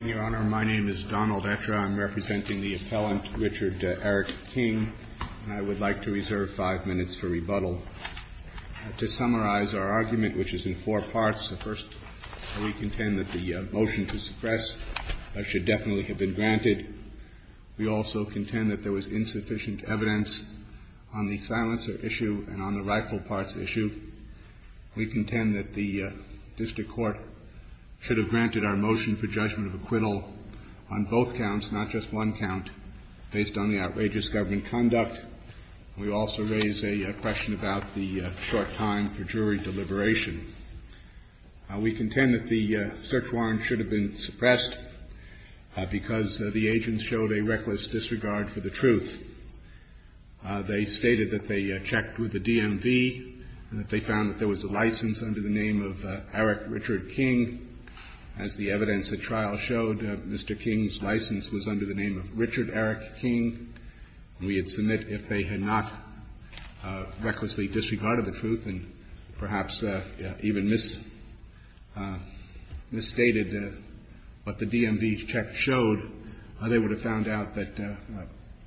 Your Honor, my name is Donald Etra. I'm representing the appellant, Richard Eric King, and I would like to reserve five minutes for rebuttal. To summarize our argument, which is in four parts, the first, we contend that the motion to suppress should definitely have been granted. We also contend that there was insufficient evidence on the silencer issue and on the rifle parts issue. We contend that the district court should have granted our motion for judgment of acquittal on both counts, not just one count, based on the outrageous government conduct. We also raise a question about the short time for jury deliberation. We contend that the search warrant should have been suppressed because the agents showed a reckless disregard for the truth. They stated that they checked with the DMV and that they found that there was a license under the name of Eric Richard King. As the evidence at trial showed, Mr. King's license was under the name of Richard Eric King. We would submit if they had not recklessly disregarded the truth and perhaps even misstated what the DMV check showed, they would have found out that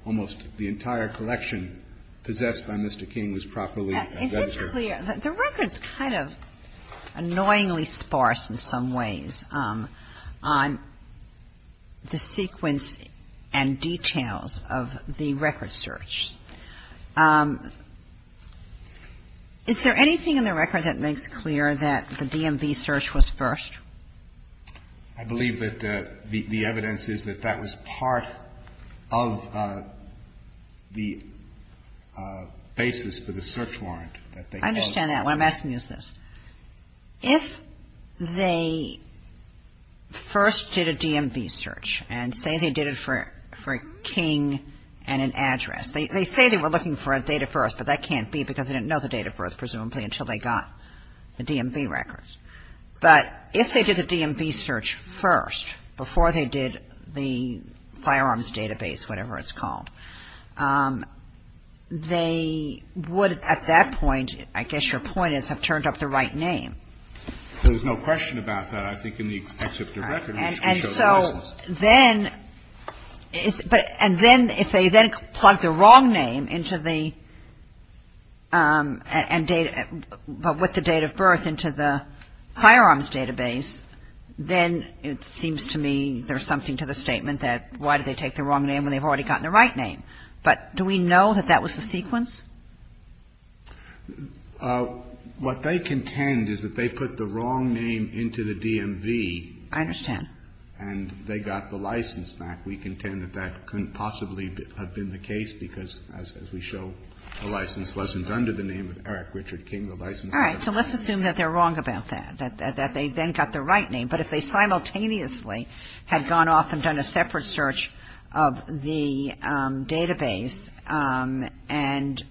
almost the entire collection possessed by Mr. King was properly registered. The record's kind of annoyingly sparse in some ways on the sequence and details of the record search. Is there anything in the record that makes clear that the DMV search was first? I believe that the evidence is that that was part of the basis for the search warrant. I understand that. What I'm asking is this. If they first did a DMV search and say they did it for King and an address. They say they were looking for a date of birth, but that can't be because they didn't know the date of birth, presumably, until they got the DMV records. But if they did the DMV search first, before they did the firearms database, whatever it's called, they would at that point, I guess your point is, have turned up the right name. There's no question about that, I think, in the except of the record. And so then, if they then plug the wrong name into the, with the date of birth into the firearms database, then it seems to me there's something to the statement that why did they take the wrong name when they've already gotten the right name. But do we know that that was the sequence? What they contend is that they put the wrong name into the DMV. I understand. And they got the license back. We contend that that couldn't possibly have been the case because, as we show, the license wasn't under the name of Eric Richard King. All right. So let's assume that they're wrong about that, that they then got the right name. But if they simultaneously had gone off and done a separate search of the database and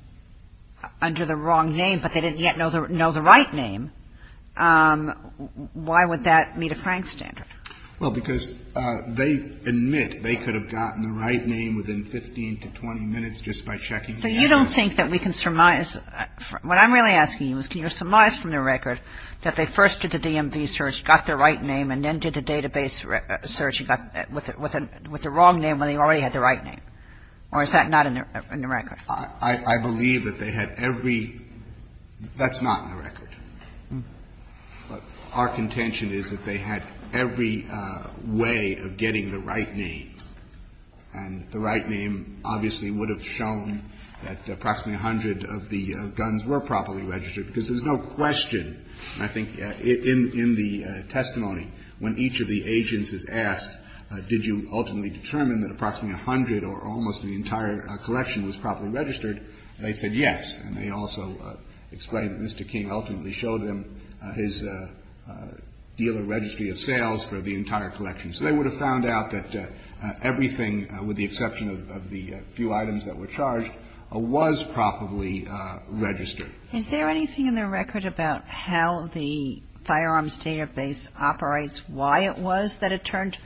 under the wrong name, but they didn't yet know the right name, why would that meet a Frank standard? Well, because they admit they could have gotten the right name within 15 to 20 minutes just by checking the database. So you don't think that we can surmise, what I'm really asking you is can you surmise from the record that they first did the DMV search, got the right name, and then did the database search with the wrong name when they already had the right name? Or is that not in the record? I believe that they had every – that's not in the record. But our contention is that they had every way of getting the right name. And the right name obviously would have shown that approximately 100 of the guns were properly registered because there's no question, I think, in the testimony, when each of the agents is asked, did you ultimately determine that approximately 100 or almost the entire collection was properly registered, they said yes. And they also explained that Mr. King ultimately showed them his dealer registry of sales for the entire collection. So they would have found out that everything, with the exception of the few items that were charged, was properly registered. Is there anything in the record about how the firearms database operates, why it was that it turned?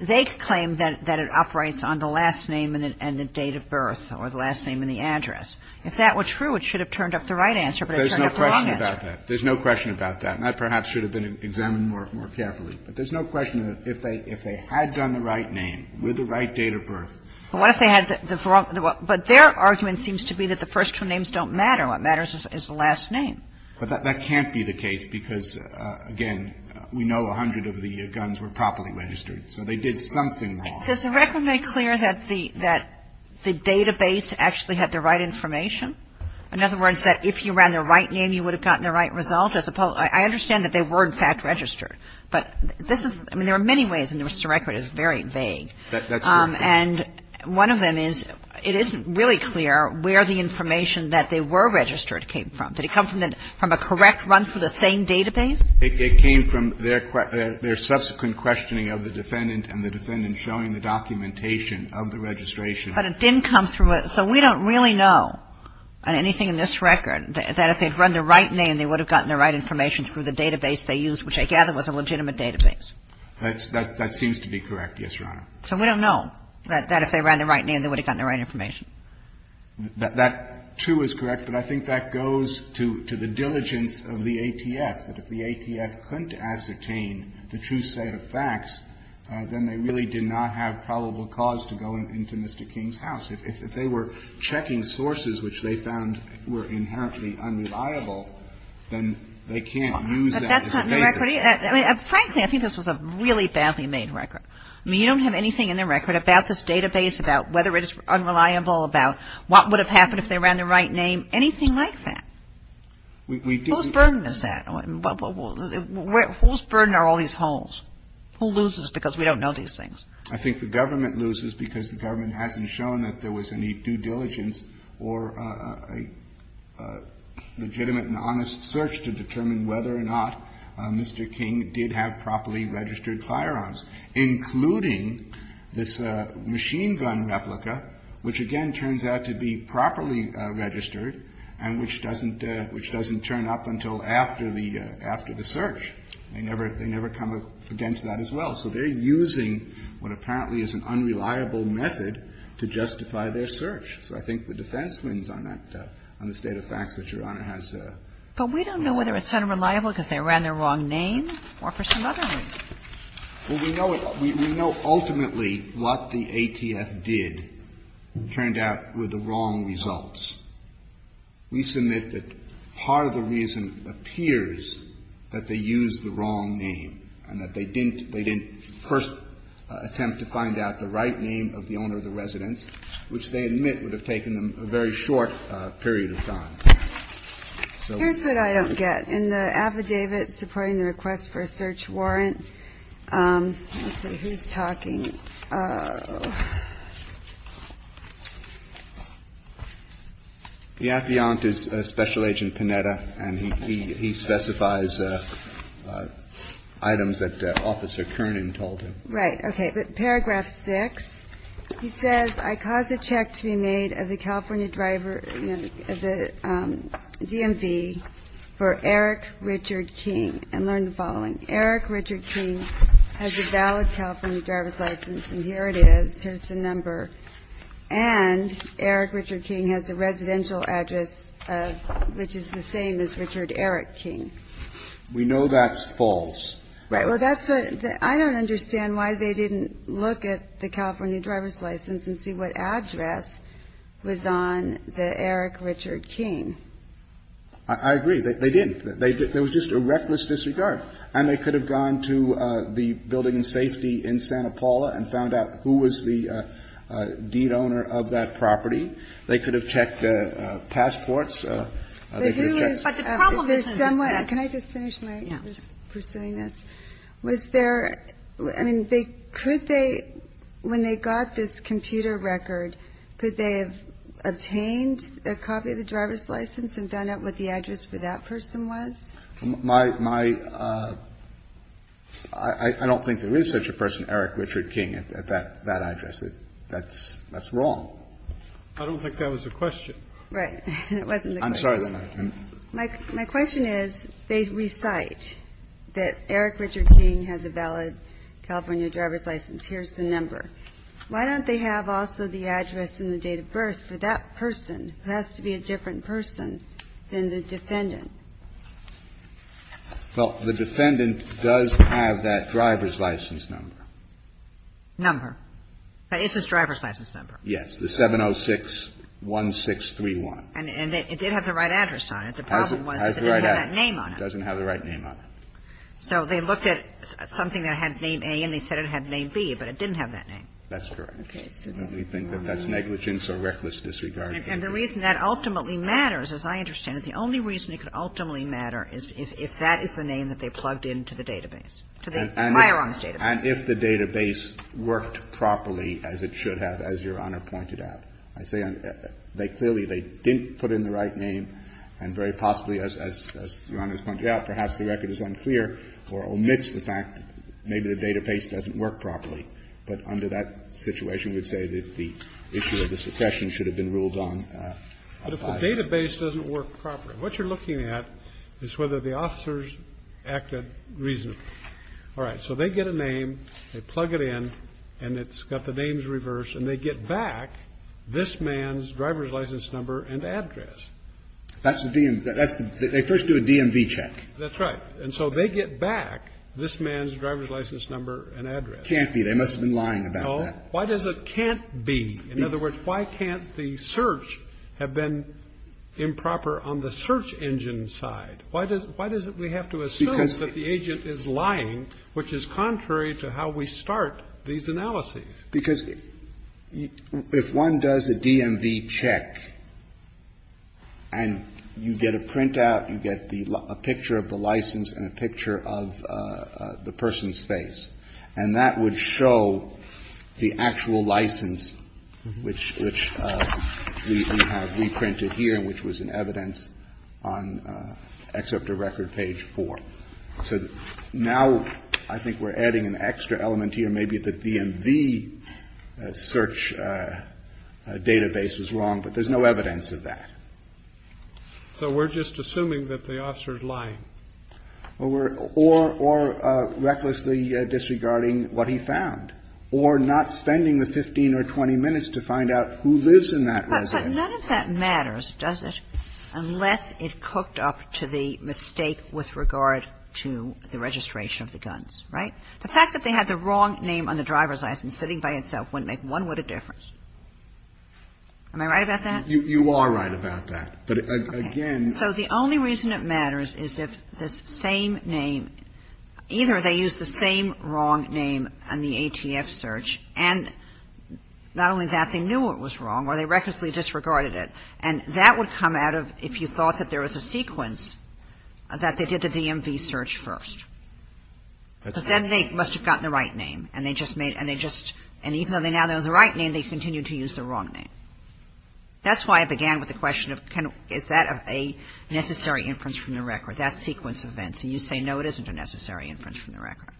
They claim that it operates on the last name and the date of birth or the last name and the address. If that were true, it should have turned up the right answer, but it turned up the wrong answer. There's no question about that. There's no question about that. And that perhaps should have been examined more carefully. But there's no question if they had done the right name with the right date of birth. But what if they had the wrong – but their argument seems to be that the first two names don't matter. What matters is the last name. But that can't be the case because, again, we know 100 of the guns were properly registered, so they did something wrong. Does the record make clear that the database actually had the right information? In other words, that if you ran the right name, you would have gotten the right result as opposed – I understand that they were, in fact, registered. But this is – I mean, there are many ways in which the record is very vague. And one of them is it isn't really clear where the information that they were registered came from. Did it come from a correct run through the same database? It came from their subsequent questioning of the defendant and the defendant showing the documentation of the registration. But it didn't come through a – so we don't really know on anything in this record that if they had run the right name, they would have gotten the right information through the database they used, which I gather was a legitimate database. That seems to be correct. Yes, Your Honor. So we don't know that if they ran the right name, they would have gotten the right information. That, too, is correct. But I think that goes to the diligence of the ATF, that if the ATF couldn't ascertain the true set of facts, then they really did not have probable cause to go into Mr. King's house. If they were checking sources which they found were inherently unreliable, then they can't use that as a basis. Frankly, I think this was a really badly made record. I mean, you don't have anything in the record about this database, about whether it is unreliable, about what would have happened if they ran the right name, anything like that. Whose burden is that? Whose burden are all these holes? Who loses because we don't know these things? I think the government loses because the government hasn't shown that there was any due diligence or a legitimate and honest search to determine whether or not Mr. King did have properly registered firearms, including this machine gun replica, which again turns out to be properly registered and which doesn't turn up until after the search. They never come up against that as well. So they're using what apparently is an unreliable method to justify their search. So I think the defense wins on that, on the state of facts that Your Honor has. But we don't know whether it's unreliable because they ran the wrong name or for some other reason. Well, we know it. We know ultimately what the ATF did turned out were the wrong results. We submit that part of the reason appears that they used the wrong name and that they didn't, they didn't first attempt to find out the right name of the owner of the residence, which they admit would have taken them a very short period of time. Here's what I don't get. In the affidavit supporting the request for a search warrant, let's see. Who's talking? The affiant is Special Agent Panetta, and he specifies items that Officer Kernan told him. Okay. But paragraph 6, he says, I cause a check to be made of the California driver, the DMV, for Eric Richard King, and learn the following. Eric Richard King has a valid California driver's license, and here it is. Here's the number. And Eric Richard King has a residential address of, which is the same as Richard Eric King. We know that's false. Right. Well, that's what, I don't understand why they didn't look at the California driver's license and see what address was on the Eric Richard King. I agree. They didn't. There was just a reckless disregard. And they could have gone to the building safety in Santa Paula and found out who was the deed owner of that property. They could have checked passports. They could have checked. But the problem isn't that. Can I just finish my pursuing this? Yeah. Was there, I mean, could they, when they got this computer record, could they have obtained a copy of the driver's license and found out what the address for that person was? My, I don't think there is such a person, Eric Richard King, at that address. That's wrong. I don't think that was the question. Right. It wasn't the question. I'm sorry. My question is, they recite that Eric Richard King has a valid California driver's license. Here's the number. Why don't they have also the address and the date of birth for that person, who has to be a different person than the defendant? Well, the defendant does have that driver's license number. Number. It's his driver's license number. Yes. The 706-1631. And it did have the right address on it. The problem was that it didn't have that name on it. It doesn't have the right name on it. So they looked at something that had name A and they said it had name B, but it didn't have that name. That's correct. We think that that's negligence or reckless disregard. And the reason that ultimately matters, as I understand it, the only reason it could ultimately matter is if that is the name that they plugged into the database, to the Myron's database. And if the database worked properly as it should have, as Your Honor pointed out. I say they clearly, they didn't put in the right name. And very possibly, as Your Honor has pointed out, perhaps the record is unclear or omits the fact that maybe the database doesn't work properly. But under that situation, we'd say that the issue of the suppression should have been ruled on. But if the database doesn't work properly, what you're looking at is whether the officers acted reasonably. All right. So they get a name. They plug it in. And it's got the names reversed. And they get back this man's driver's license number and address. That's the DMV. They first do a DMV check. That's right. And so they get back this man's driver's license number and address. Can't be. They must have been lying about that. Why does it can't be? In other words, why can't the search have been improper on the search engine side? Why does it we have to assume that the agent is lying, which is contrary to how we start these analyses? Because if one does a DMV check and you get a printout, you get a picture of the license and a picture of the person's face, and that would show the actual license, which we have reprinted here and which was in evidence on Excerpt of Record, page So now I think we're adding an extra element here. Maybe the DMV search database is wrong, but there's no evidence of that. So we're just assuming that the officer is lying. Well, we're or recklessly disregarding what he found or not spending the 15 or 20 minutes to find out who lives in that residence. But none of that matters, does it, unless it cooked up to the mistake with regard to the registration of the guns, right? The fact that they had the wrong name on the driver's license sitting by itself wouldn't make one little difference. Am I right about that? You are right about that, but again So the only reason it matters is if this same name, either they used the same wrong And not only that, they knew it was wrong or they recklessly disregarded it. And that would come out of if you thought that there was a sequence that they did the DMV search first. Because then they must have gotten the right name and they just made and even though they now know the right name, they continue to use the wrong name. That's why I began with the question of can is that a necessary inference from the record, that sequence of events? And you say no, it isn't a necessary inference from the record.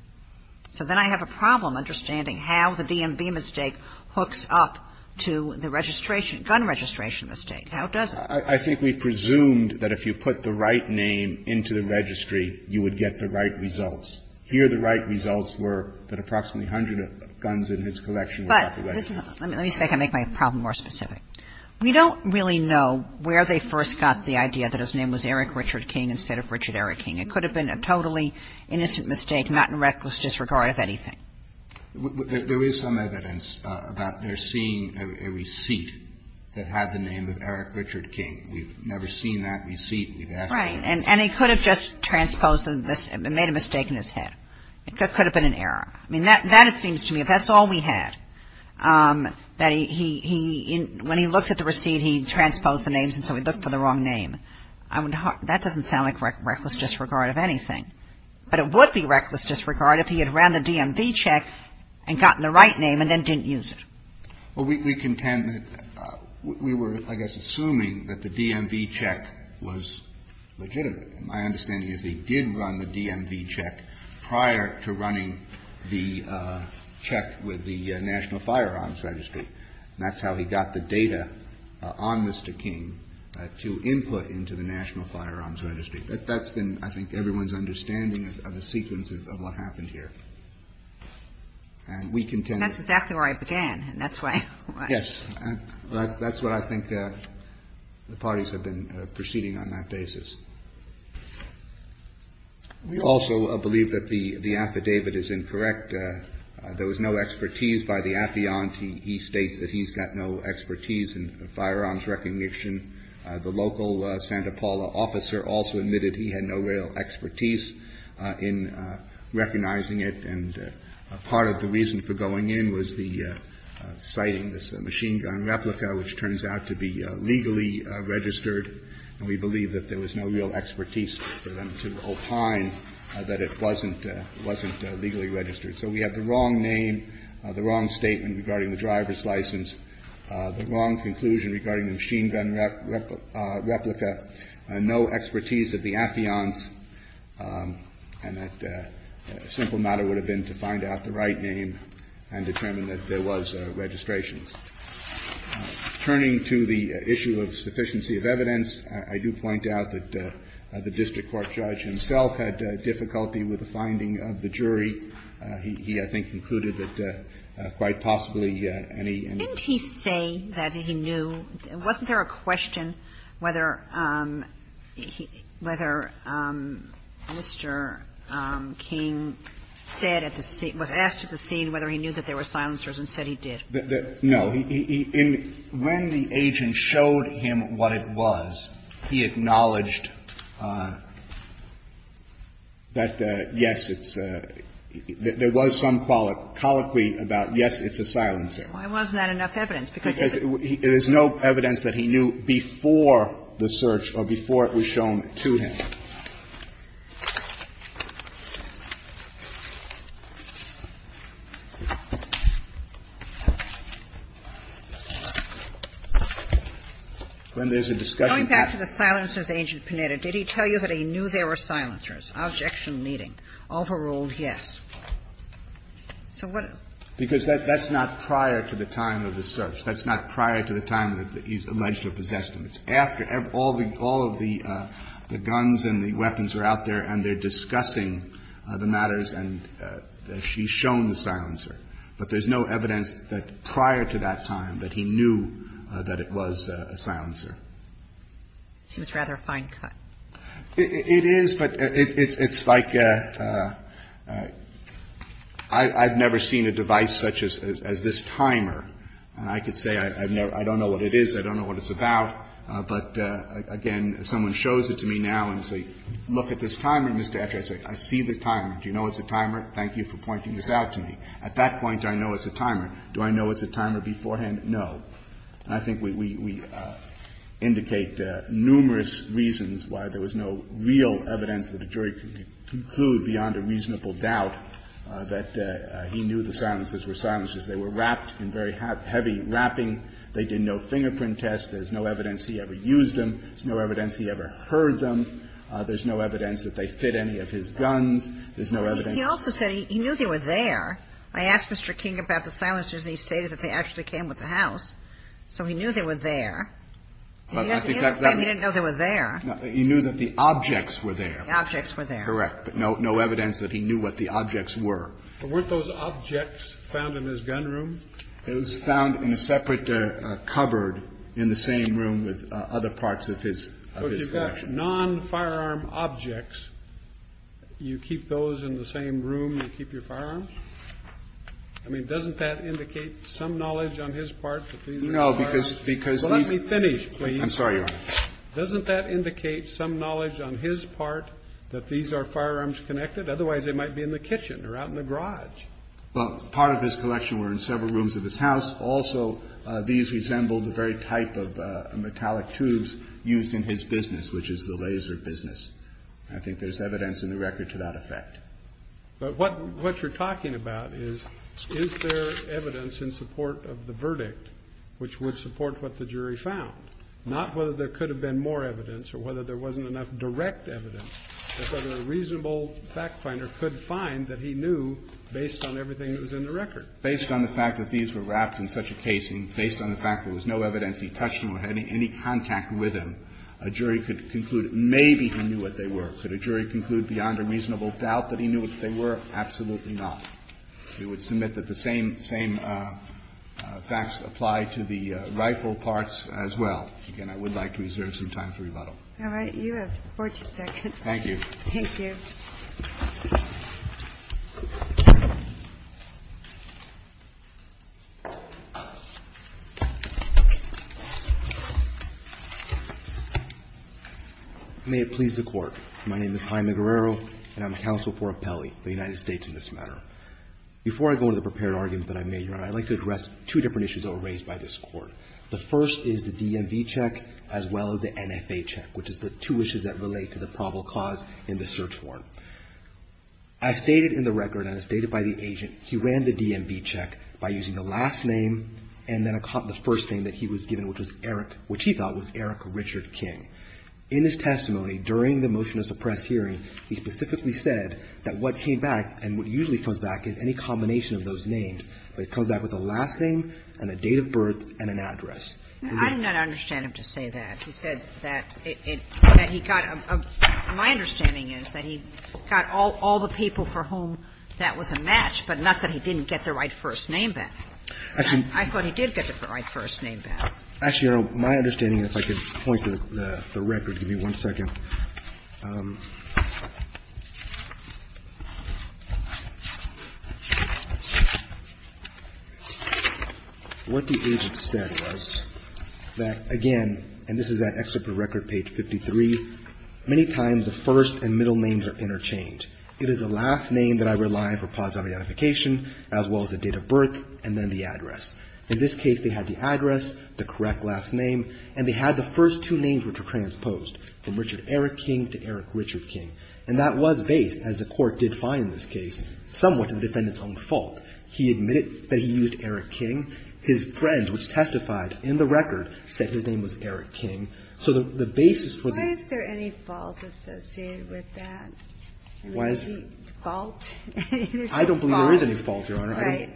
So then I have a problem understanding how the DMV mistake hooks up to the registration gun registration mistake. How does it? I think we presumed that if you put the right name into the registry, you would get the right results. Here the right results were that approximately 100 guns in his collection were out of the way. But let me make my problem more specific. We don't really know where they first got the idea that his name was Eric Richard King instead of Richard Eric King. It could have been a totally innocent mistake, not in reckless disregard of anything. There is some evidence about their seeing a receipt that had the name of Eric Richard King. We've never seen that receipt. Right. And he could have just transposed and made a mistake in his head. It could have been an error. I mean, that it seems to me if that's all we had, that he when he looked at the receipt, he transposed the names and so he looked for the wrong name. I mean, that doesn't sound like reckless disregard of anything. But it would be reckless disregard if he had ran the DMV check and gotten the right name and then didn't use it. Well, we contend that we were, I guess, assuming that the DMV check was legitimate. My understanding is he did run the DMV check prior to running the check with the National Firearms Registry. And that's how he got the data on Mr. King to input into the National Firearms Registry. That's been, I think, everyone's understanding of the sequence of what happened here. And we contend. That's exactly where I began. And that's why. Yes. That's what I think the parties have been proceeding on that basis. We also believe that the affidavit is incorrect. There was no expertise by the affiant. He states that he's got no expertise in firearms recognition. The local Santa Paula officer also admitted he had no real expertise in recognizing it. And part of the reason for going in was the citing this machine gun replica, which turns out to be legally registered. And we believe that there was no real expertise for them to opine that it wasn't legally registered. So we have the wrong name, the wrong statement regarding the driver's license, the wrong conclusion regarding the machine gun replica, no expertise of the affiants, and that a simple matter would have been to find out the right name and determine that there was registration. Turning to the issue of sufficiency of evidence, I do point out that the district court judge himself had difficulty with the finding of the jury. He, I think, concluded that quite possibly any and all. Didn't he say that he knew? Wasn't there a question whether Mr. King said at the scene, was asked at the scene whether he knew that there were silencers and said he did? No. When the agent showed him what it was, he acknowledged that, yes, it's a – there was some colloquy about, yes, it's a silencer. Why wasn't that enough evidence? Because there's no evidence that he knew before the search or before it was shown to him. When there's a discussion point. Going back to the silencers, Agent Panetta, did he tell you that he knew there were silencers? Objection leading. Overruled, yes. So what is it? Because that's not prior to the time of the search. That's not prior to the time that he's alleged to have possessed him. It's after all of the guns and the weapons are out there and they're discussing the matters and she's shown the silencer. But there's no evidence that prior to that time that he knew that it was a silencer. She was rather fine cut. It is, but it's like I've never seen a device such as this timer. I could say I don't know what it is. I don't know what it's about. But, again, someone shows it to me now and says, look at this timer, Mr. Etchart. I say, I see the timer. Do you know it's a timer? Thank you for pointing this out to me. At that point, do I know it's a timer? Do I know it's a timer beforehand? No. And I think we indicate numerous reasons why there was no real evidence that a jury could conclude beyond a reasonable doubt that he knew the silencers were silencers. They were wrapped in very heavy wrapping. They did no fingerprint test. There's no evidence he ever used them. There's no evidence he ever heard them. There's no evidence that they fit any of his guns. There's no evidence. He also said he knew they were there. I asked Mr. King about the silencers and he stated that they actually came with the house. So he knew they were there. He didn't know they were there. He knew that the objects were there. The objects were there. Correct. But no evidence that he knew what the objects were. But weren't those objects found in his gun room? It was found in a separate cupboard in the same room with other parts of his collection. So if you've got non-firearm objects, you keep those in the same room you keep your firearms? I mean, doesn't that indicate some knowledge on his part that these are firearms? No, because he's… Well, let me finish, please. I'm sorry, Your Honor. Doesn't that indicate some knowledge on his part that these are firearms connected? Otherwise, they might be in the kitchen or out in the garage. Well, part of his collection were in several rooms of his house. Also, these resembled the very type of metallic tubes used in his business, which is the laser business. I think there's evidence in the record to that effect. But what you're talking about is, is there evidence in support of the verdict which would support what the jury found? Not whether there could have been more evidence or whether there wasn't enough direct evidence, but whether a reasonable fact finder could find that he knew based on everything that was in the record. Based on the fact that these were wrapped in such a casing, based on the fact there was no evidence he touched them or had any contact with them, a jury could conclude maybe he knew what they were. Could a jury conclude beyond a reasonable doubt that he knew what they were? Absolutely not. We would submit that the same, same facts apply to the rifle parts as well. Again, I would like to reserve some time for rebuttal. All right. You have 14 seconds. Thank you. Thank you. May it please the Court. My name is Jaime Guerrero, and I'm counsel for Apelli, the United States in this matter. Before I go into the prepared argument that I made, Your Honor, I'd like to address two different issues that were raised by this Court. The first is the DMV check as well as the NFA check, which is the two issues that relate to the probable cause in the search warrant. As stated in the record and as stated by the agent, he ran the DMV check by using the last name and then the first name that he was given, which was Eric, which he felt was Eric Richard King. In his testimony during the motion to suppress hearing, he specifically said that what came back and what usually comes back is any combination of those names, but he said that what came back was a last name and a date of birth and an address. I did not understand him to say that. He said that he got a – my understanding is that he got all the people for whom that was a match, but not that he didn't get the right first name back. I thought he did get the right first name back. Actually, Your Honor, my understanding, if I could point to the record. Give me one second. What the agent said was that, again, and this is that excerpt of record, page 53, many times the first and middle names are interchanged. It is the last name that I rely on for positive identification as well as the date of birth and then the address. In this case, they had the address, the correct last name, and they had the first and middle names. The first two names were transposed from Richard Eric King to Eric Richard King, and that was based, as the Court did find in this case, somewhat to the defendant's own fault. He admitted that he used Eric King. His friend, which testified in the record, said his name was Eric King. So the basis for the – Why is there any fault associated with that? Why is there – Fault? I don't believe there is any fault, Your Honor. Right.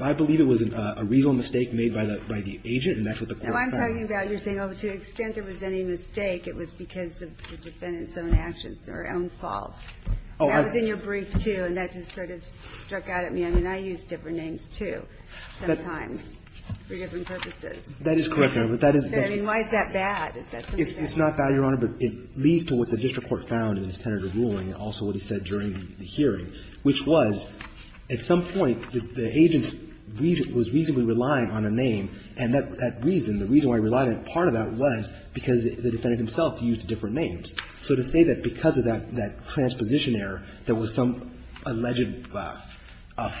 I believe it was a legal mistake made by the agent, and that's what the Court found. No, I'm talking about you're saying, oh, to the extent there was any mistake, it was because of the defendant's own actions, their own fault. That was in your brief, too, and that just sort of struck out at me. I mean, I use different names, too, sometimes, for different purposes. That is correct, Your Honor. But that is the – I mean, why is that bad? Is that something that's bad? It's not bad, Your Honor, but it leads to what the district court found in its tentative ruling and also what he said during the hearing, which was, at some point, the agent was reasonably relying on a name, and that reason, the reason why he relied on part of that was because the defendant himself used different names. So to say that because of that transposition error, there was some alleged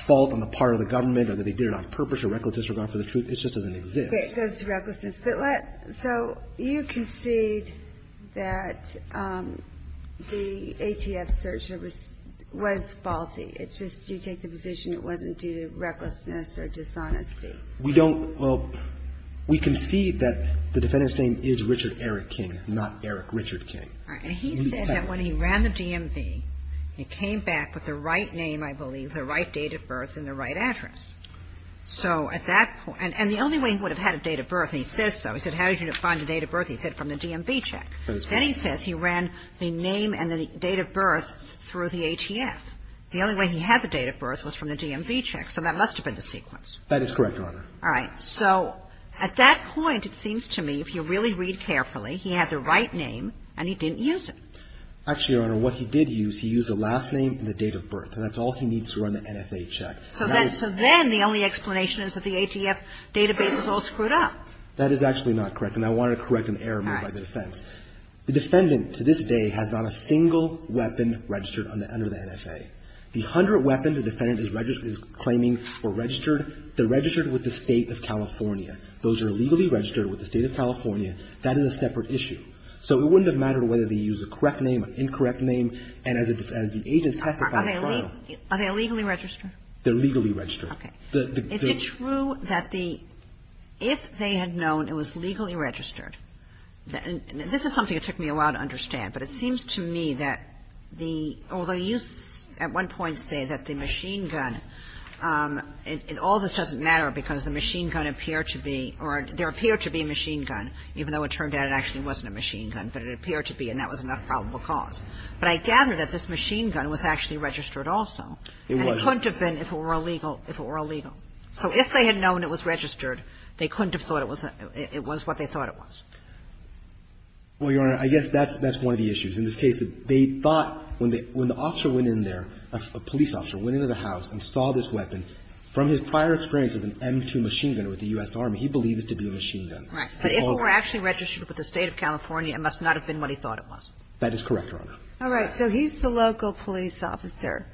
fault on the part of the government or that they did it on purpose or recklessness in regard for the truth, it just doesn't exist. Okay. It goes to recklessness. But let – so you concede that the ATF search was faulty. It's just you take the position it wasn't due to recklessness or dishonesty. We don't – well, we concede that the defendant's name is Richard Eric King, not Eric Richard King. All right. And he said that when he ran the DMV, he came back with the right name, I believe, the right date of birth and the right address. So at that point – and the only way he would have had a date of birth, and he says so, he said, how did you find the date of birth? He said from the DMV check. Then he says he ran the name and the date of birth through the ATF. The only way he had the date of birth was from the DMV check. So that must have been the sequence. That is correct, Your Honor. All right. So at that point, it seems to me, if you really read carefully, he had the right name and he didn't use it. Actually, Your Honor, what he did use, he used the last name and the date of birth. And that's all he needs to run the NFA check. So then the only explanation is that the ATF database is all screwed up. That is actually not correct. And I wanted to correct an error made by the defense. The defendant to this day has not a single weapon registered under the NFA. The hundred weapons the defendant is claiming are registered, they're registered with the State of California. Those are legally registered with the State of California. That is a separate issue. So it wouldn't have mattered whether they used a correct name, an incorrect name, and as the agent testified at trial – Are they legally registered? They're legally registered. Okay. Is it true that the – if they had known it was legally registered, this is something it took me a while to understand. But it seems to me that the – although you at one point say that the machine gun – and all this doesn't matter because the machine gun appeared to be – or there appeared to be a machine gun, even though it turned out it actually wasn't a machine gun, but it appeared to be and that was an unprobable cause. But I gather that this machine gun was actually registered also. It was. And it couldn't have been if it were illegal – if it were illegal. So if they had known it was registered, they couldn't have thought it was – it was what they thought it was. Well, Your Honor, I guess that's one of the issues. In this case, they thought when the officer went in there, a police officer went into the house and saw this weapon, from his prior experience as an M2 machine gunner with the U.S. Army, he believes it to be a machine gun. Right. But if it were actually registered with the State of California, it must not have been what he thought it was. That is correct, Your Honor. All right. So he's the local police officer.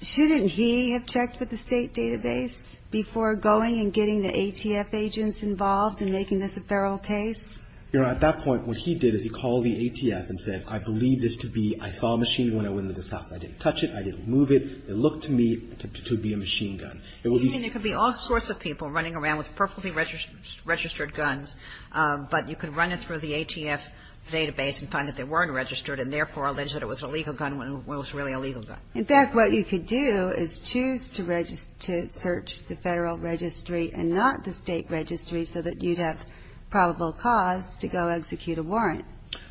Shouldn't he have checked with the State database before going and getting the ATF agents involved in making this a federal case? Your Honor, at that point, what he did is he called the ATF and said, I believe this to be – I saw a machine gun when I went into the house. I didn't touch it. I didn't move it. It looked to me to be a machine gun. You mean there could be all sorts of people running around with perfectly registered guns, but you could run it through the ATF database and find that they weren't registered, and therefore allege that it was an illegal gun when it was really an illegal gun. In fact, what you could do is choose to search the federal registry and not the State registry so that you'd have probable cause to go execute a warrant.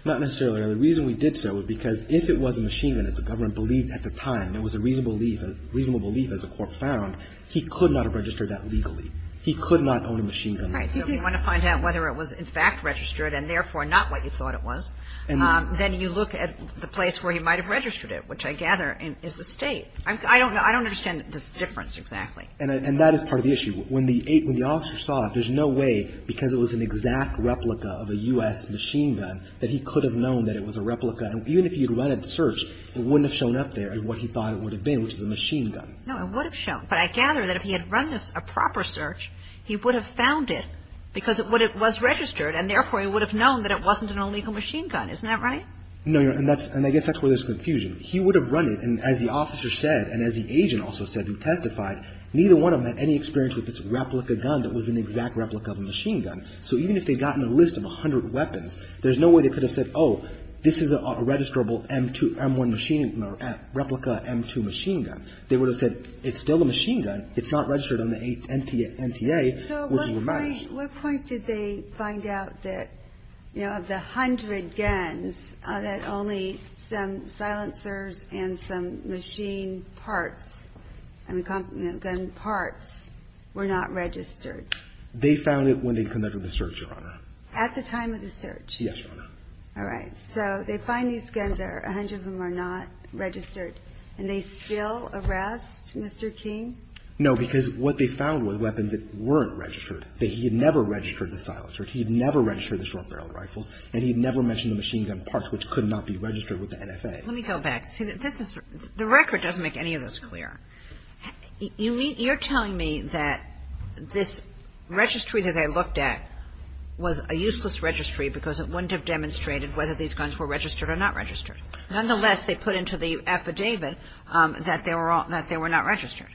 Not necessarily, Your Honor. The reason we did so was because if it was a machine gun that the government believed at the time, there was a reasonable belief, a reasonable belief as the court found, he could not have registered that legally. He could not own a machine gun. Right. So if you want to find out whether it was in fact registered and therefore not what you thought it was, then you look at the place where he might have registered it, which I gather is the State. I don't understand the difference exactly. And that is part of the issue. When the officer saw it, there's no way because it was an exact replica of a U.S. machine gun that he could have known that it was a replica. And even if he had run a search, it wouldn't have shown up there as what he thought it would have been, which is a machine gun. No, it would have shown. But I gather that if he had run a proper search, he would have found it because it was registered, and therefore he would have known that it wasn't an illegal machine gun. Isn't that right? No, Your Honor, and I guess that's where there's confusion. He would have run it, and as the officer said and as the agent also said who testified, neither one of them had any experience with this replica gun that was an exact replica of a machine gun. So even if they had gotten a list of 100 weapons, there's no way they could have said, oh, this is a registrable M1 machine gun or replica M2 machine gun. They would have said it's still a machine gun. It's not registered on the NTA. So what point did they find out that, you know, of the 100 guns, that only some silencers and some machine parts, I mean, gun parts were not registered? They found it when they conducted the search, Your Honor. At the time of the search? Yes, Your Honor. All right. So they find these guns there, 100 of them are not registered, and they still arrest Mr. King? No, because what they found were weapons that weren't registered, that he had never registered the silencers, he had never registered the short barrel rifles, and he had never mentioned the machine gun parts, which could not be registered with the NFA. Let me go back. The record doesn't make any of this clear. You're telling me that this registry that they looked at was a useless registry because it wouldn't have demonstrated whether these guns were registered or not registered. Nonetheless, they put into the affidavit that they were not registered.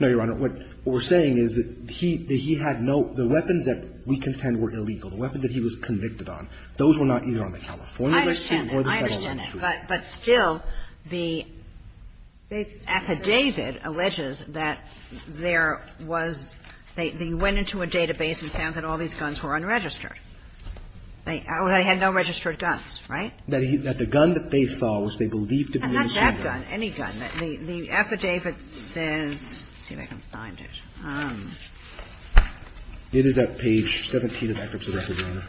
No, Your Honor. What we're saying is that he had no – the weapons that we contend were illegal. The weapons that he was convicted on, those were not either on the California registry or the federal registry. But still, the affidavit alleges that there was – they went into a database and found that all these guns were unregistered. They had no registered guns, right? That the gun that they saw was they believed to be a machine gun. Not that gun. Any gun. The affidavit says – let's see if I can find it. It is at page 17 of Eckert's affidavit.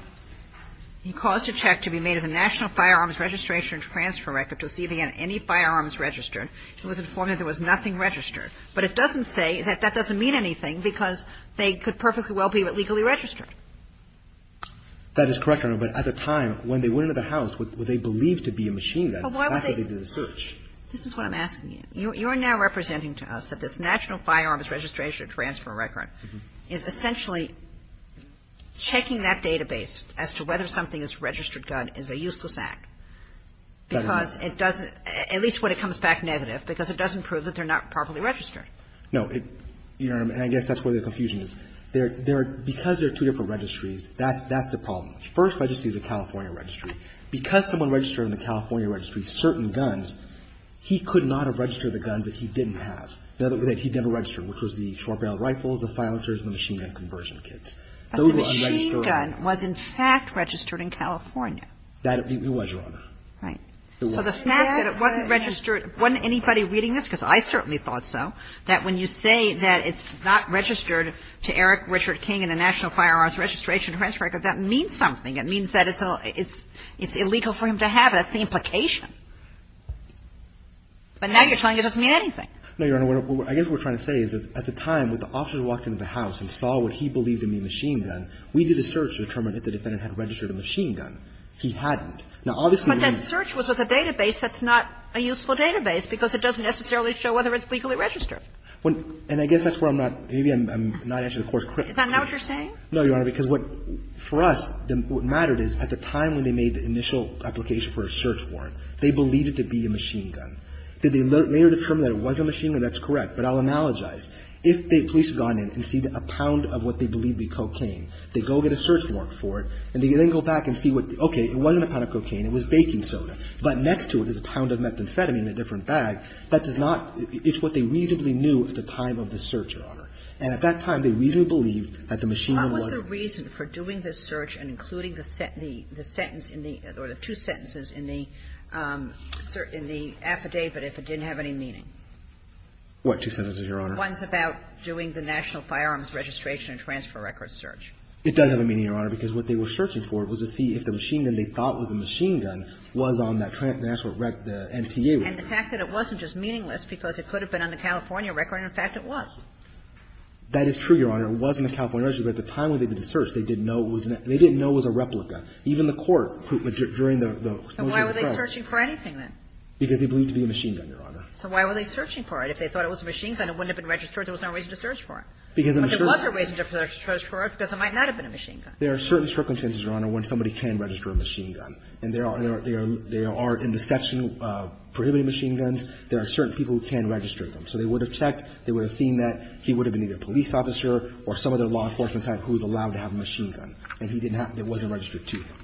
He caused a check to be made of the National Firearms Registration and Transfer Record to see if he had any firearms registered. He was informed that there was nothing registered. But it doesn't say – that doesn't mean anything because they could perfectly well be legally registered. That is correct, Your Honor. But at the time, when they went into the house, were they believed to be a machine gun after they did the search? This is what I'm asking you. You are now representing to us that this National Firearms Registration and Transfer Record is essentially checking that database as to whether something is a registered gun is a useless act because it doesn't – at least when it comes back negative because it doesn't prove that they're not properly registered. No. You know what I mean? I guess that's where the confusion is. Because there are two different registries, that's the problem. The first registry is a California registry. Because someone registered in the California registry certain guns, he could not have registered the guns that he didn't have. He never registered, which was the short-barreled rifles, the silencers, and the machine gun conversion kits. A machine gun was in fact registered in California. It was, Your Honor. Right. So the fact that it wasn't registered – wasn't anybody reading this? Because I certainly thought so, that when you say that it's not registered to Eric Richard King in the National Firearms Registration and Transfer Record, that means something. It means that it's illegal for him to have it. That's the implication. But now you're telling me it doesn't mean anything. No, Your Honor. I guess what we're trying to say is that at the time, when the officers walked into the house and saw what he believed to be a machine gun, we did a search to determine if the defendant had registered a machine gun. He hadn't. Now, obviously – But that search was with a database that's not a useful database because it doesn't necessarily show whether it's legally registered. And I guess that's where I'm not – maybe I'm not answering the court's questions. Is that not what you're saying? No, Your Honor. Because what – for us, what mattered is at the time when they made the initial application for a search warrant, they believed it to be a machine gun. Did they later determine that it was a machine gun? That's correct. But I'll analogize. If the police had gone in and seen a pound of what they believed to be cocaine, they go get a search warrant for it, and they then go back and see what – okay, it wasn't a pound of cocaine. It was baking soda. But next to it is a pound of methamphetamine in a different bag. That does not – it's what they reasonably knew at the time of the search, Your Honor. And at that time, they reasonably believed that the machine gun wasn't – What was the reason for doing this search and including the sentence in the – or the two sentences in the – in the affidavit if it didn't have any meaning? What two sentences, Your Honor? The ones about doing the National Firearms Registration and Transfer Record search. It does have a meaning, Your Honor, because what they were searching for was to see if the machine gun they thought was a machine gun was on that transfer – the NTA record. And the fact that it wasn't just meaningless because it could have been on the California record, and, in fact, it was. That is true, Your Honor. It was on the California record. But at the time when they did the search, they didn't know it was – they didn't know it was a replica. Even the court, who – during the motions of the press – So why were they searching for anything, then? Because they believed it to be a machine gun, Your Honor. So why were they searching for it? If they thought it was a machine gun, it wouldn't have been registered. There was no reason to search for it. But there was a reason to search for it because it might not have been a machine gun. There are certain circumstances, Your Honor, when somebody can register a machine gun. And there are – there are – there are, in the section prohibiting machine guns, there are certain people who can register them. So they would have checked. They would have seen that he would have been either a police officer or some other law enforcement type who is allowed to have a machine gun. And he didn't have – it wasn't registered to him.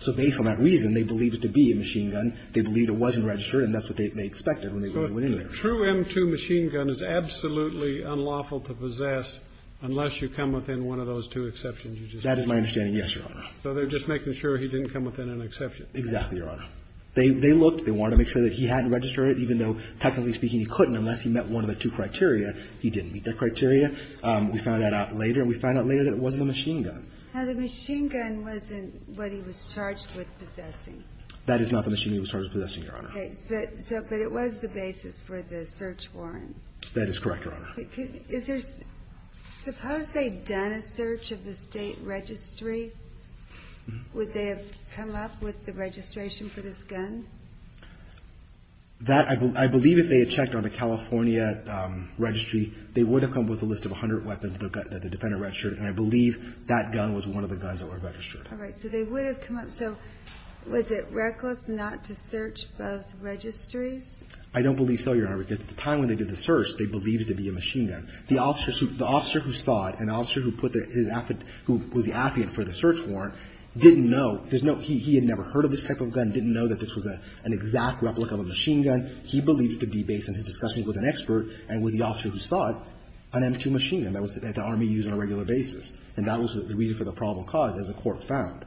So based on that reason, they believed it to be a machine gun. They believed it wasn't registered. And that's what they expected when they went in there. So a true M2 machine gun is absolutely unlawful to possess unless you come within one of those two exceptions you just made. That is my understanding, yes, Your Honor. So they're just making sure he didn't come within an exception. Exactly, Your Honor. They looked. They wanted to make sure that he hadn't registered it, even though technically speaking he couldn't unless he met one of the two criteria. He didn't meet that criteria. We found that out later. And we found out later that it wasn't a machine gun. Now, the machine gun wasn't what he was charged with possessing. That is not the machine he was charged with possessing, Your Honor. Okay. But it was the basis for the search warrant. That is correct, Your Honor. Is there – suppose they'd done a search of the state registry, would they have come up with the registration for this gun? That – I believe if they had checked on the California registry, they would have come up with a list of 100 weapons that the defendant registered. And I believe that gun was one of the guns that were registered. All right. So they would have come up. So was it reckless not to search both registries? I don't believe so, Your Honor, because at the time when they did the search, they believed it to be a machine gun. The officer who – the officer who saw it, an officer who put the – who was the affidavit for the search warrant, didn't know. There's no – he had never heard of this type of gun, didn't know that this was an exact replica of a machine gun. He believed it to be based on his discussions with an expert and with the officer who saw it, an M2 machine gun. That was the one that the Army used on a regular basis, and that was the reason for the probable cause, as the Court found.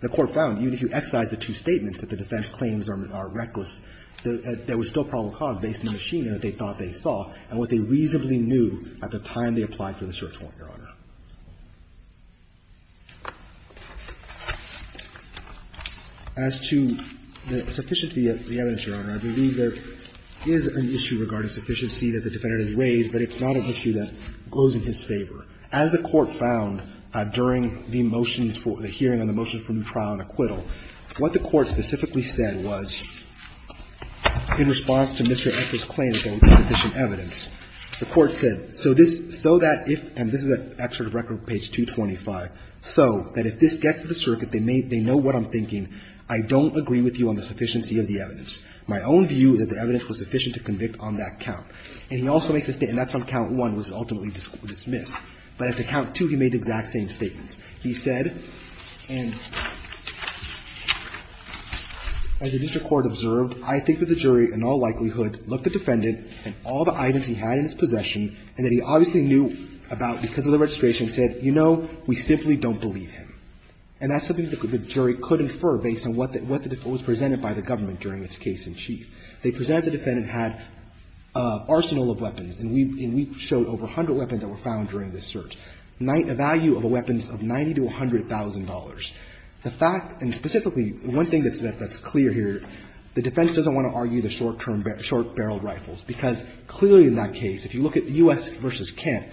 The Court found, even if you excise the two statements that the defense claims are reckless, that there was still probable cause based on the machine gun that they thought they saw and what they reasonably knew at the time they applied for the search warrant, Your Honor. As to the sufficiency of the evidence, Your Honor, I believe there is an issue regarding sufficiency that the defendant has raised, but it's not an issue that goes in his favor. As the Court found during the motions for – the hearing on the motions for new trial and acquittal, what the Court specifically said was, in response to Mr. Eckert's claim that there was sufficient evidence, the Court said, so this – so that if – and this is at Excerpt of Record, page 225 – so that if this gets to the circuit, they may – they know what I'm thinking. I don't agree with you on the sufficiency of the evidence. My own view is that the evidence was sufficient to convict on that count. And he also makes a – and that's on count one was ultimately dismissed. But as to count two, he made the exact same statements. He said, and as the district court observed, I think that the jury in all likelihood looked at the defendant and all the items he had in his possession and that he obviously knew about because of the registration said, you know, we simply don't believe him. And that's something that the jury could infer based on what the – what was presented by the government during this case in chief. They presented the defendant had an arsenal of weapons, and we – and we showed over a hundred weapons that were found during this search, a value of a weapons of $90,000 to $100,000. The fact – and specifically, one thing that's clear here, the defense doesn't want to argue the short-term – short-barreled rifles, because clearly in that case, if you look at U.S. v. Kent,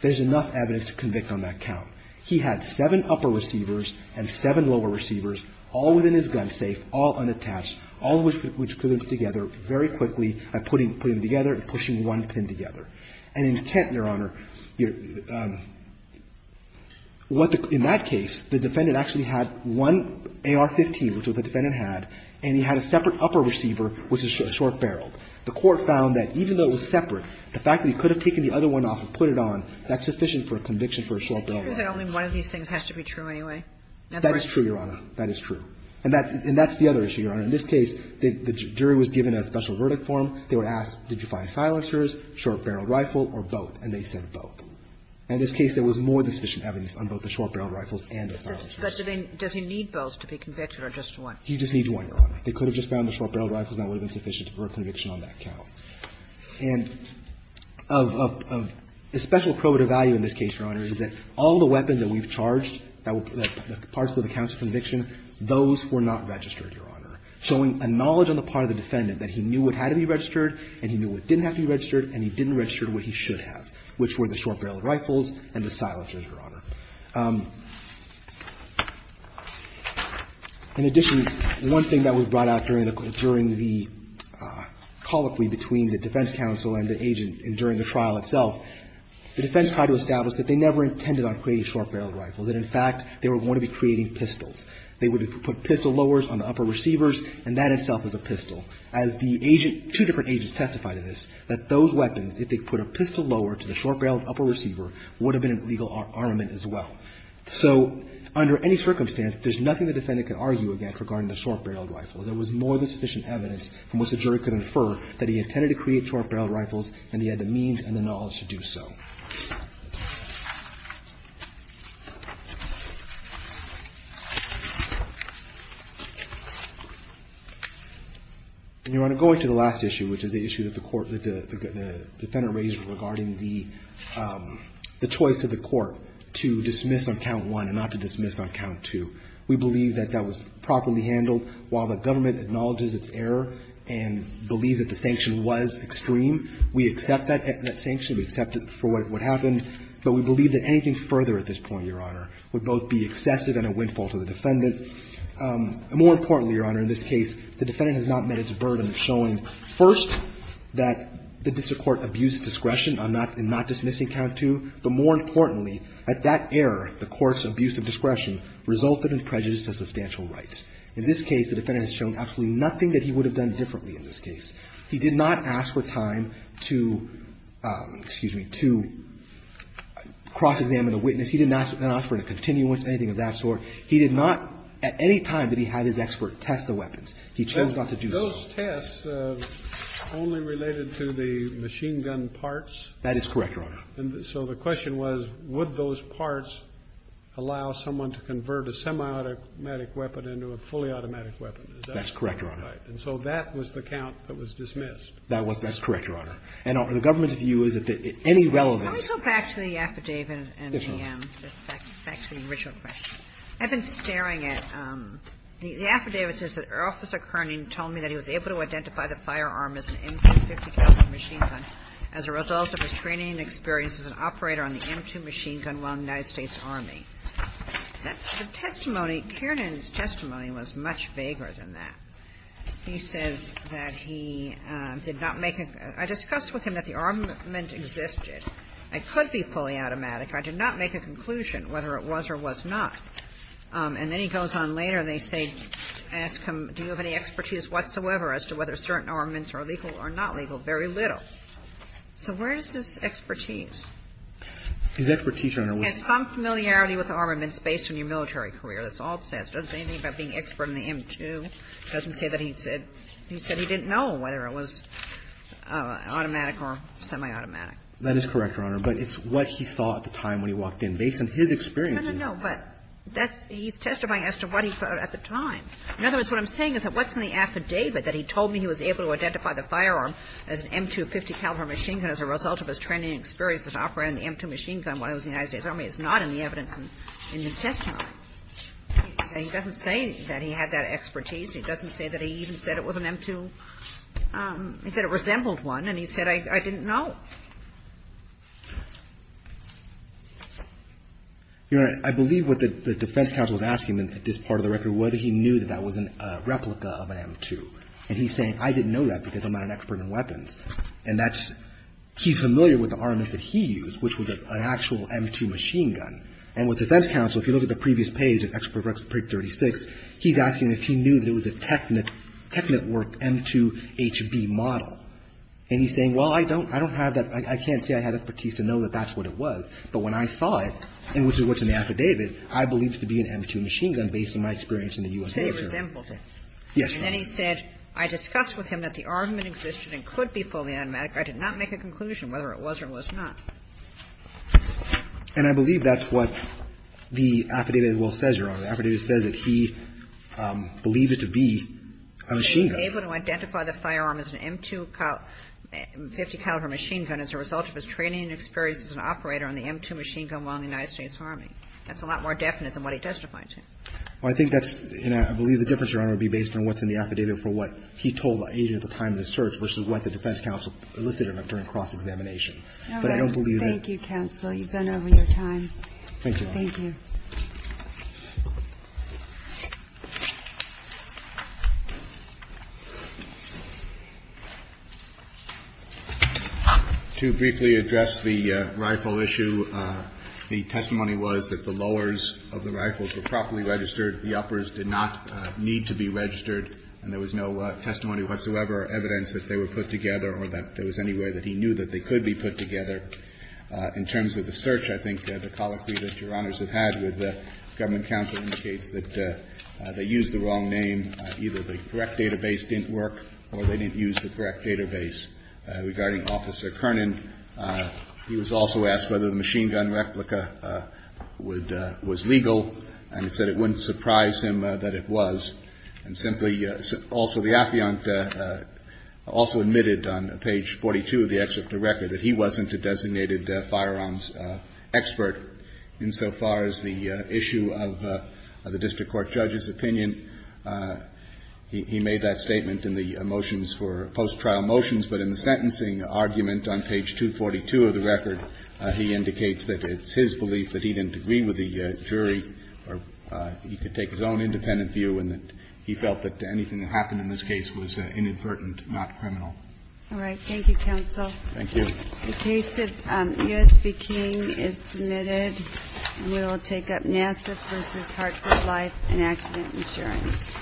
there's enough evidence to convict on that count. He had seven upper receivers and seven lower receivers all within his gun safe, all And in Kent, Your Honor, what the – in that case, the defendant actually had one AR-15, which was what the defendant had, and he had a separate upper receiver, which was a short-barreled. The court found that even though it was separate, the fact that he could have taken the other one off and put it on, that's sufficient for a conviction for a short-barreled rifle. Kagan. Is it true that only one of these things has to be true anyway? That is true, Your Honor. That is true. And that's the other issue, Your Honor. In this case, the jury was given a special verdict for him. They were asked, did you find silencers, short-barreled rifle, or both? And they said both. In this case, there was more than sufficient evidence on both the short-barreled rifles and the silencers. But does he need both to be convicted or just one? He just needs one, Your Honor. They could have just found the short-barreled rifles, and that would have been sufficient for a conviction on that count. And a special probative value in this case, Your Honor, is that all the weapons that we've charged that were parts of the counts of conviction, those were not registered, Your Honor, showing a knowledge on the part of the defendant that he knew what had to be registered and he knew what didn't have to be registered and he didn't register what he should have, which were the short-barreled rifles and the silencers, Your Honor. In addition, one thing that was brought out during the colloquy between the defense counsel and the agent during the trial itself, the defense tried to establish that they never intended on creating short-barreled rifles, that in fact they were going to be creating pistols. They would put pistol lowers on the upper receivers, and that itself is a pistol. As the agent, two different agents testified to this, that those weapons, if they put a pistol lower to the short-barreled upper receiver, would have been an illegal armament as well. So under any circumstance, there's nothing the defendant can argue against regarding the short-barreled rifle. There was more than sufficient evidence from which the jury could infer that he intended to create short-barreled rifles and he had the means and the knowledge to do so. And, Your Honor, going to the last issue, which is the issue that the court, that the defendant raised regarding the choice of the court to dismiss on count one and not to dismiss on count two, we believe that that was properly handled. While the government acknowledges its error and believes that the sanction was extreme, we accept that sanction, we accept it for what happened, but we believe that anything further at this point, Your Honor, would both be excessive and a windfall to the defendant. More importantly, Your Honor, in this case, the defendant has not met its burden of showing first that the district court abused discretion on not to dismiss on count two, but more importantly, at that error, the court's abuse of discretion resulted in prejudice to substantial rights. In this case, the defendant has shown absolutely nothing that he would have done differently in this case. He did not ask for time to, excuse me, to cross-examine a witness. He did not ask for a continuance, anything of that sort. He did not, at any time that he had his expert test the weapons. He chose not to do so. Those tests only related to the machine-gun parts? That is correct, Your Honor. And so the question was, would those parts allow someone to convert a semi-automatic weapon into a fully automatic weapon? That's correct, Your Honor. And so that was the count that was dismissed. That was, that's correct, Your Honor. And the government's view is that any relevance. Let me go back to the affidavit and the original question. I've been staring at the affidavit. It says that Officer Kernan told me that he was able to identify the firearm as an M2 .50 caliber machine gun as a result of his training and experience as an operator on the M2 machine gun while in the United States Army. The testimony, Kernan's testimony was much vaguer than that. He says that he did not make a, I discussed with him that the armament existed. It could be fully automatic. I did not make a conclusion whether it was or was not. And then he goes on later and they say, ask him, do you have any expertise whatsoever as to whether certain armaments are legal or not legal? Very little. So where is his expertise? His expertise, Your Honor, was. That's all it says. It doesn't say anything about being an expert on the M2. It doesn't say that he said, he said he didn't know whether it was automatic or semi-automatic. That is correct, Your Honor. But it's what he saw at the time when he walked in. Based on his experience. No, no, no. But that's, he's testifying as to what he thought at the time. In other words, what I'm saying is that what's in the affidavit that he told me he was able to identify the firearm as an M2 .50 caliber machine gun as a result of his training and experience as an operator on the M2 machine gun while he was in the United States Army is not in the evidence in his testimony. He doesn't say that he had that expertise. He doesn't say that he even said it was an M2. He said it resembled one, and he said, I didn't know. Your Honor, I believe what the defense counsel is asking in this part of the record was whether he knew that that was a replica of an M2. And he's saying, I didn't know that because I'm not an expert in weapons. And that's, he's familiar with the armaments that he used, which was an actual M2 machine gun. And with defense counsel, if you look at the previous page of Expert 36, he's asking if he knew that it was a Technic, Technic work M2HB model. And he's saying, well, I don't, I don't have that. I can't say I had expertise to know that that's what it was. But when I saw it, and which is what's in the affidavit, I believe it to be an M2 machine gun based on my experience in the U.S. military. Kagan. And then he said, I discussed with him that the armament existed and could be fully automatic. I did not make a conclusion whether it was or was not. And I believe that's what the affidavit as well says, Your Honor. The affidavit says that he believed it to be a machine gun. He was able to identify the firearm as an M2 50-caliber machine gun as a result of his training and experience as an operator on the M2 machine gun while in the United States Army. That's a lot more definite than what he testified to. Well, I think that's, and I believe the difference, Your Honor, would be based on what's in the affidavit for what he told the agent at the time of the search versus what the officer told the agent at the time of the search. And I believe that's the difference. Thank you. Thank you, counsel. You've been over your time. Thank you. Thank you. To briefly address the rifle issue, the testimony was that the lowers of the rifles were properly registered. The uppers did not need to be registered. And there was no testimony whatsoever or evidence that they were put together or that there was any way that he knew that they could be put together. In terms of the search, I think the colloquy that Your Honors have had with government counsel indicates that they used the wrong name. Either the correct database didn't work or they didn't use the correct database regarding Officer Kernan. He was also asked whether the machine gun replica would, was legal. And he said it wouldn't surprise him that it was. And simply, also the affiant also admitted on page 42 of the excerpt of the record that he wasn't a designated firearms expert insofar as the issue of the district court judge's opinion. He made that statement in the motions for post-trial motions. But in the sentencing argument on page 242 of the record, he indicates that it's his belief that he didn't agree with the jury or he could take his own independent view and that he felt that anything that happened in this case was inadvertent, not criminal. All right. Thank you, counsel. Thank you. The case of U.S.B. King is submitted. We will take up NASA v. Hartford Life and Accident Insurance. Thank you.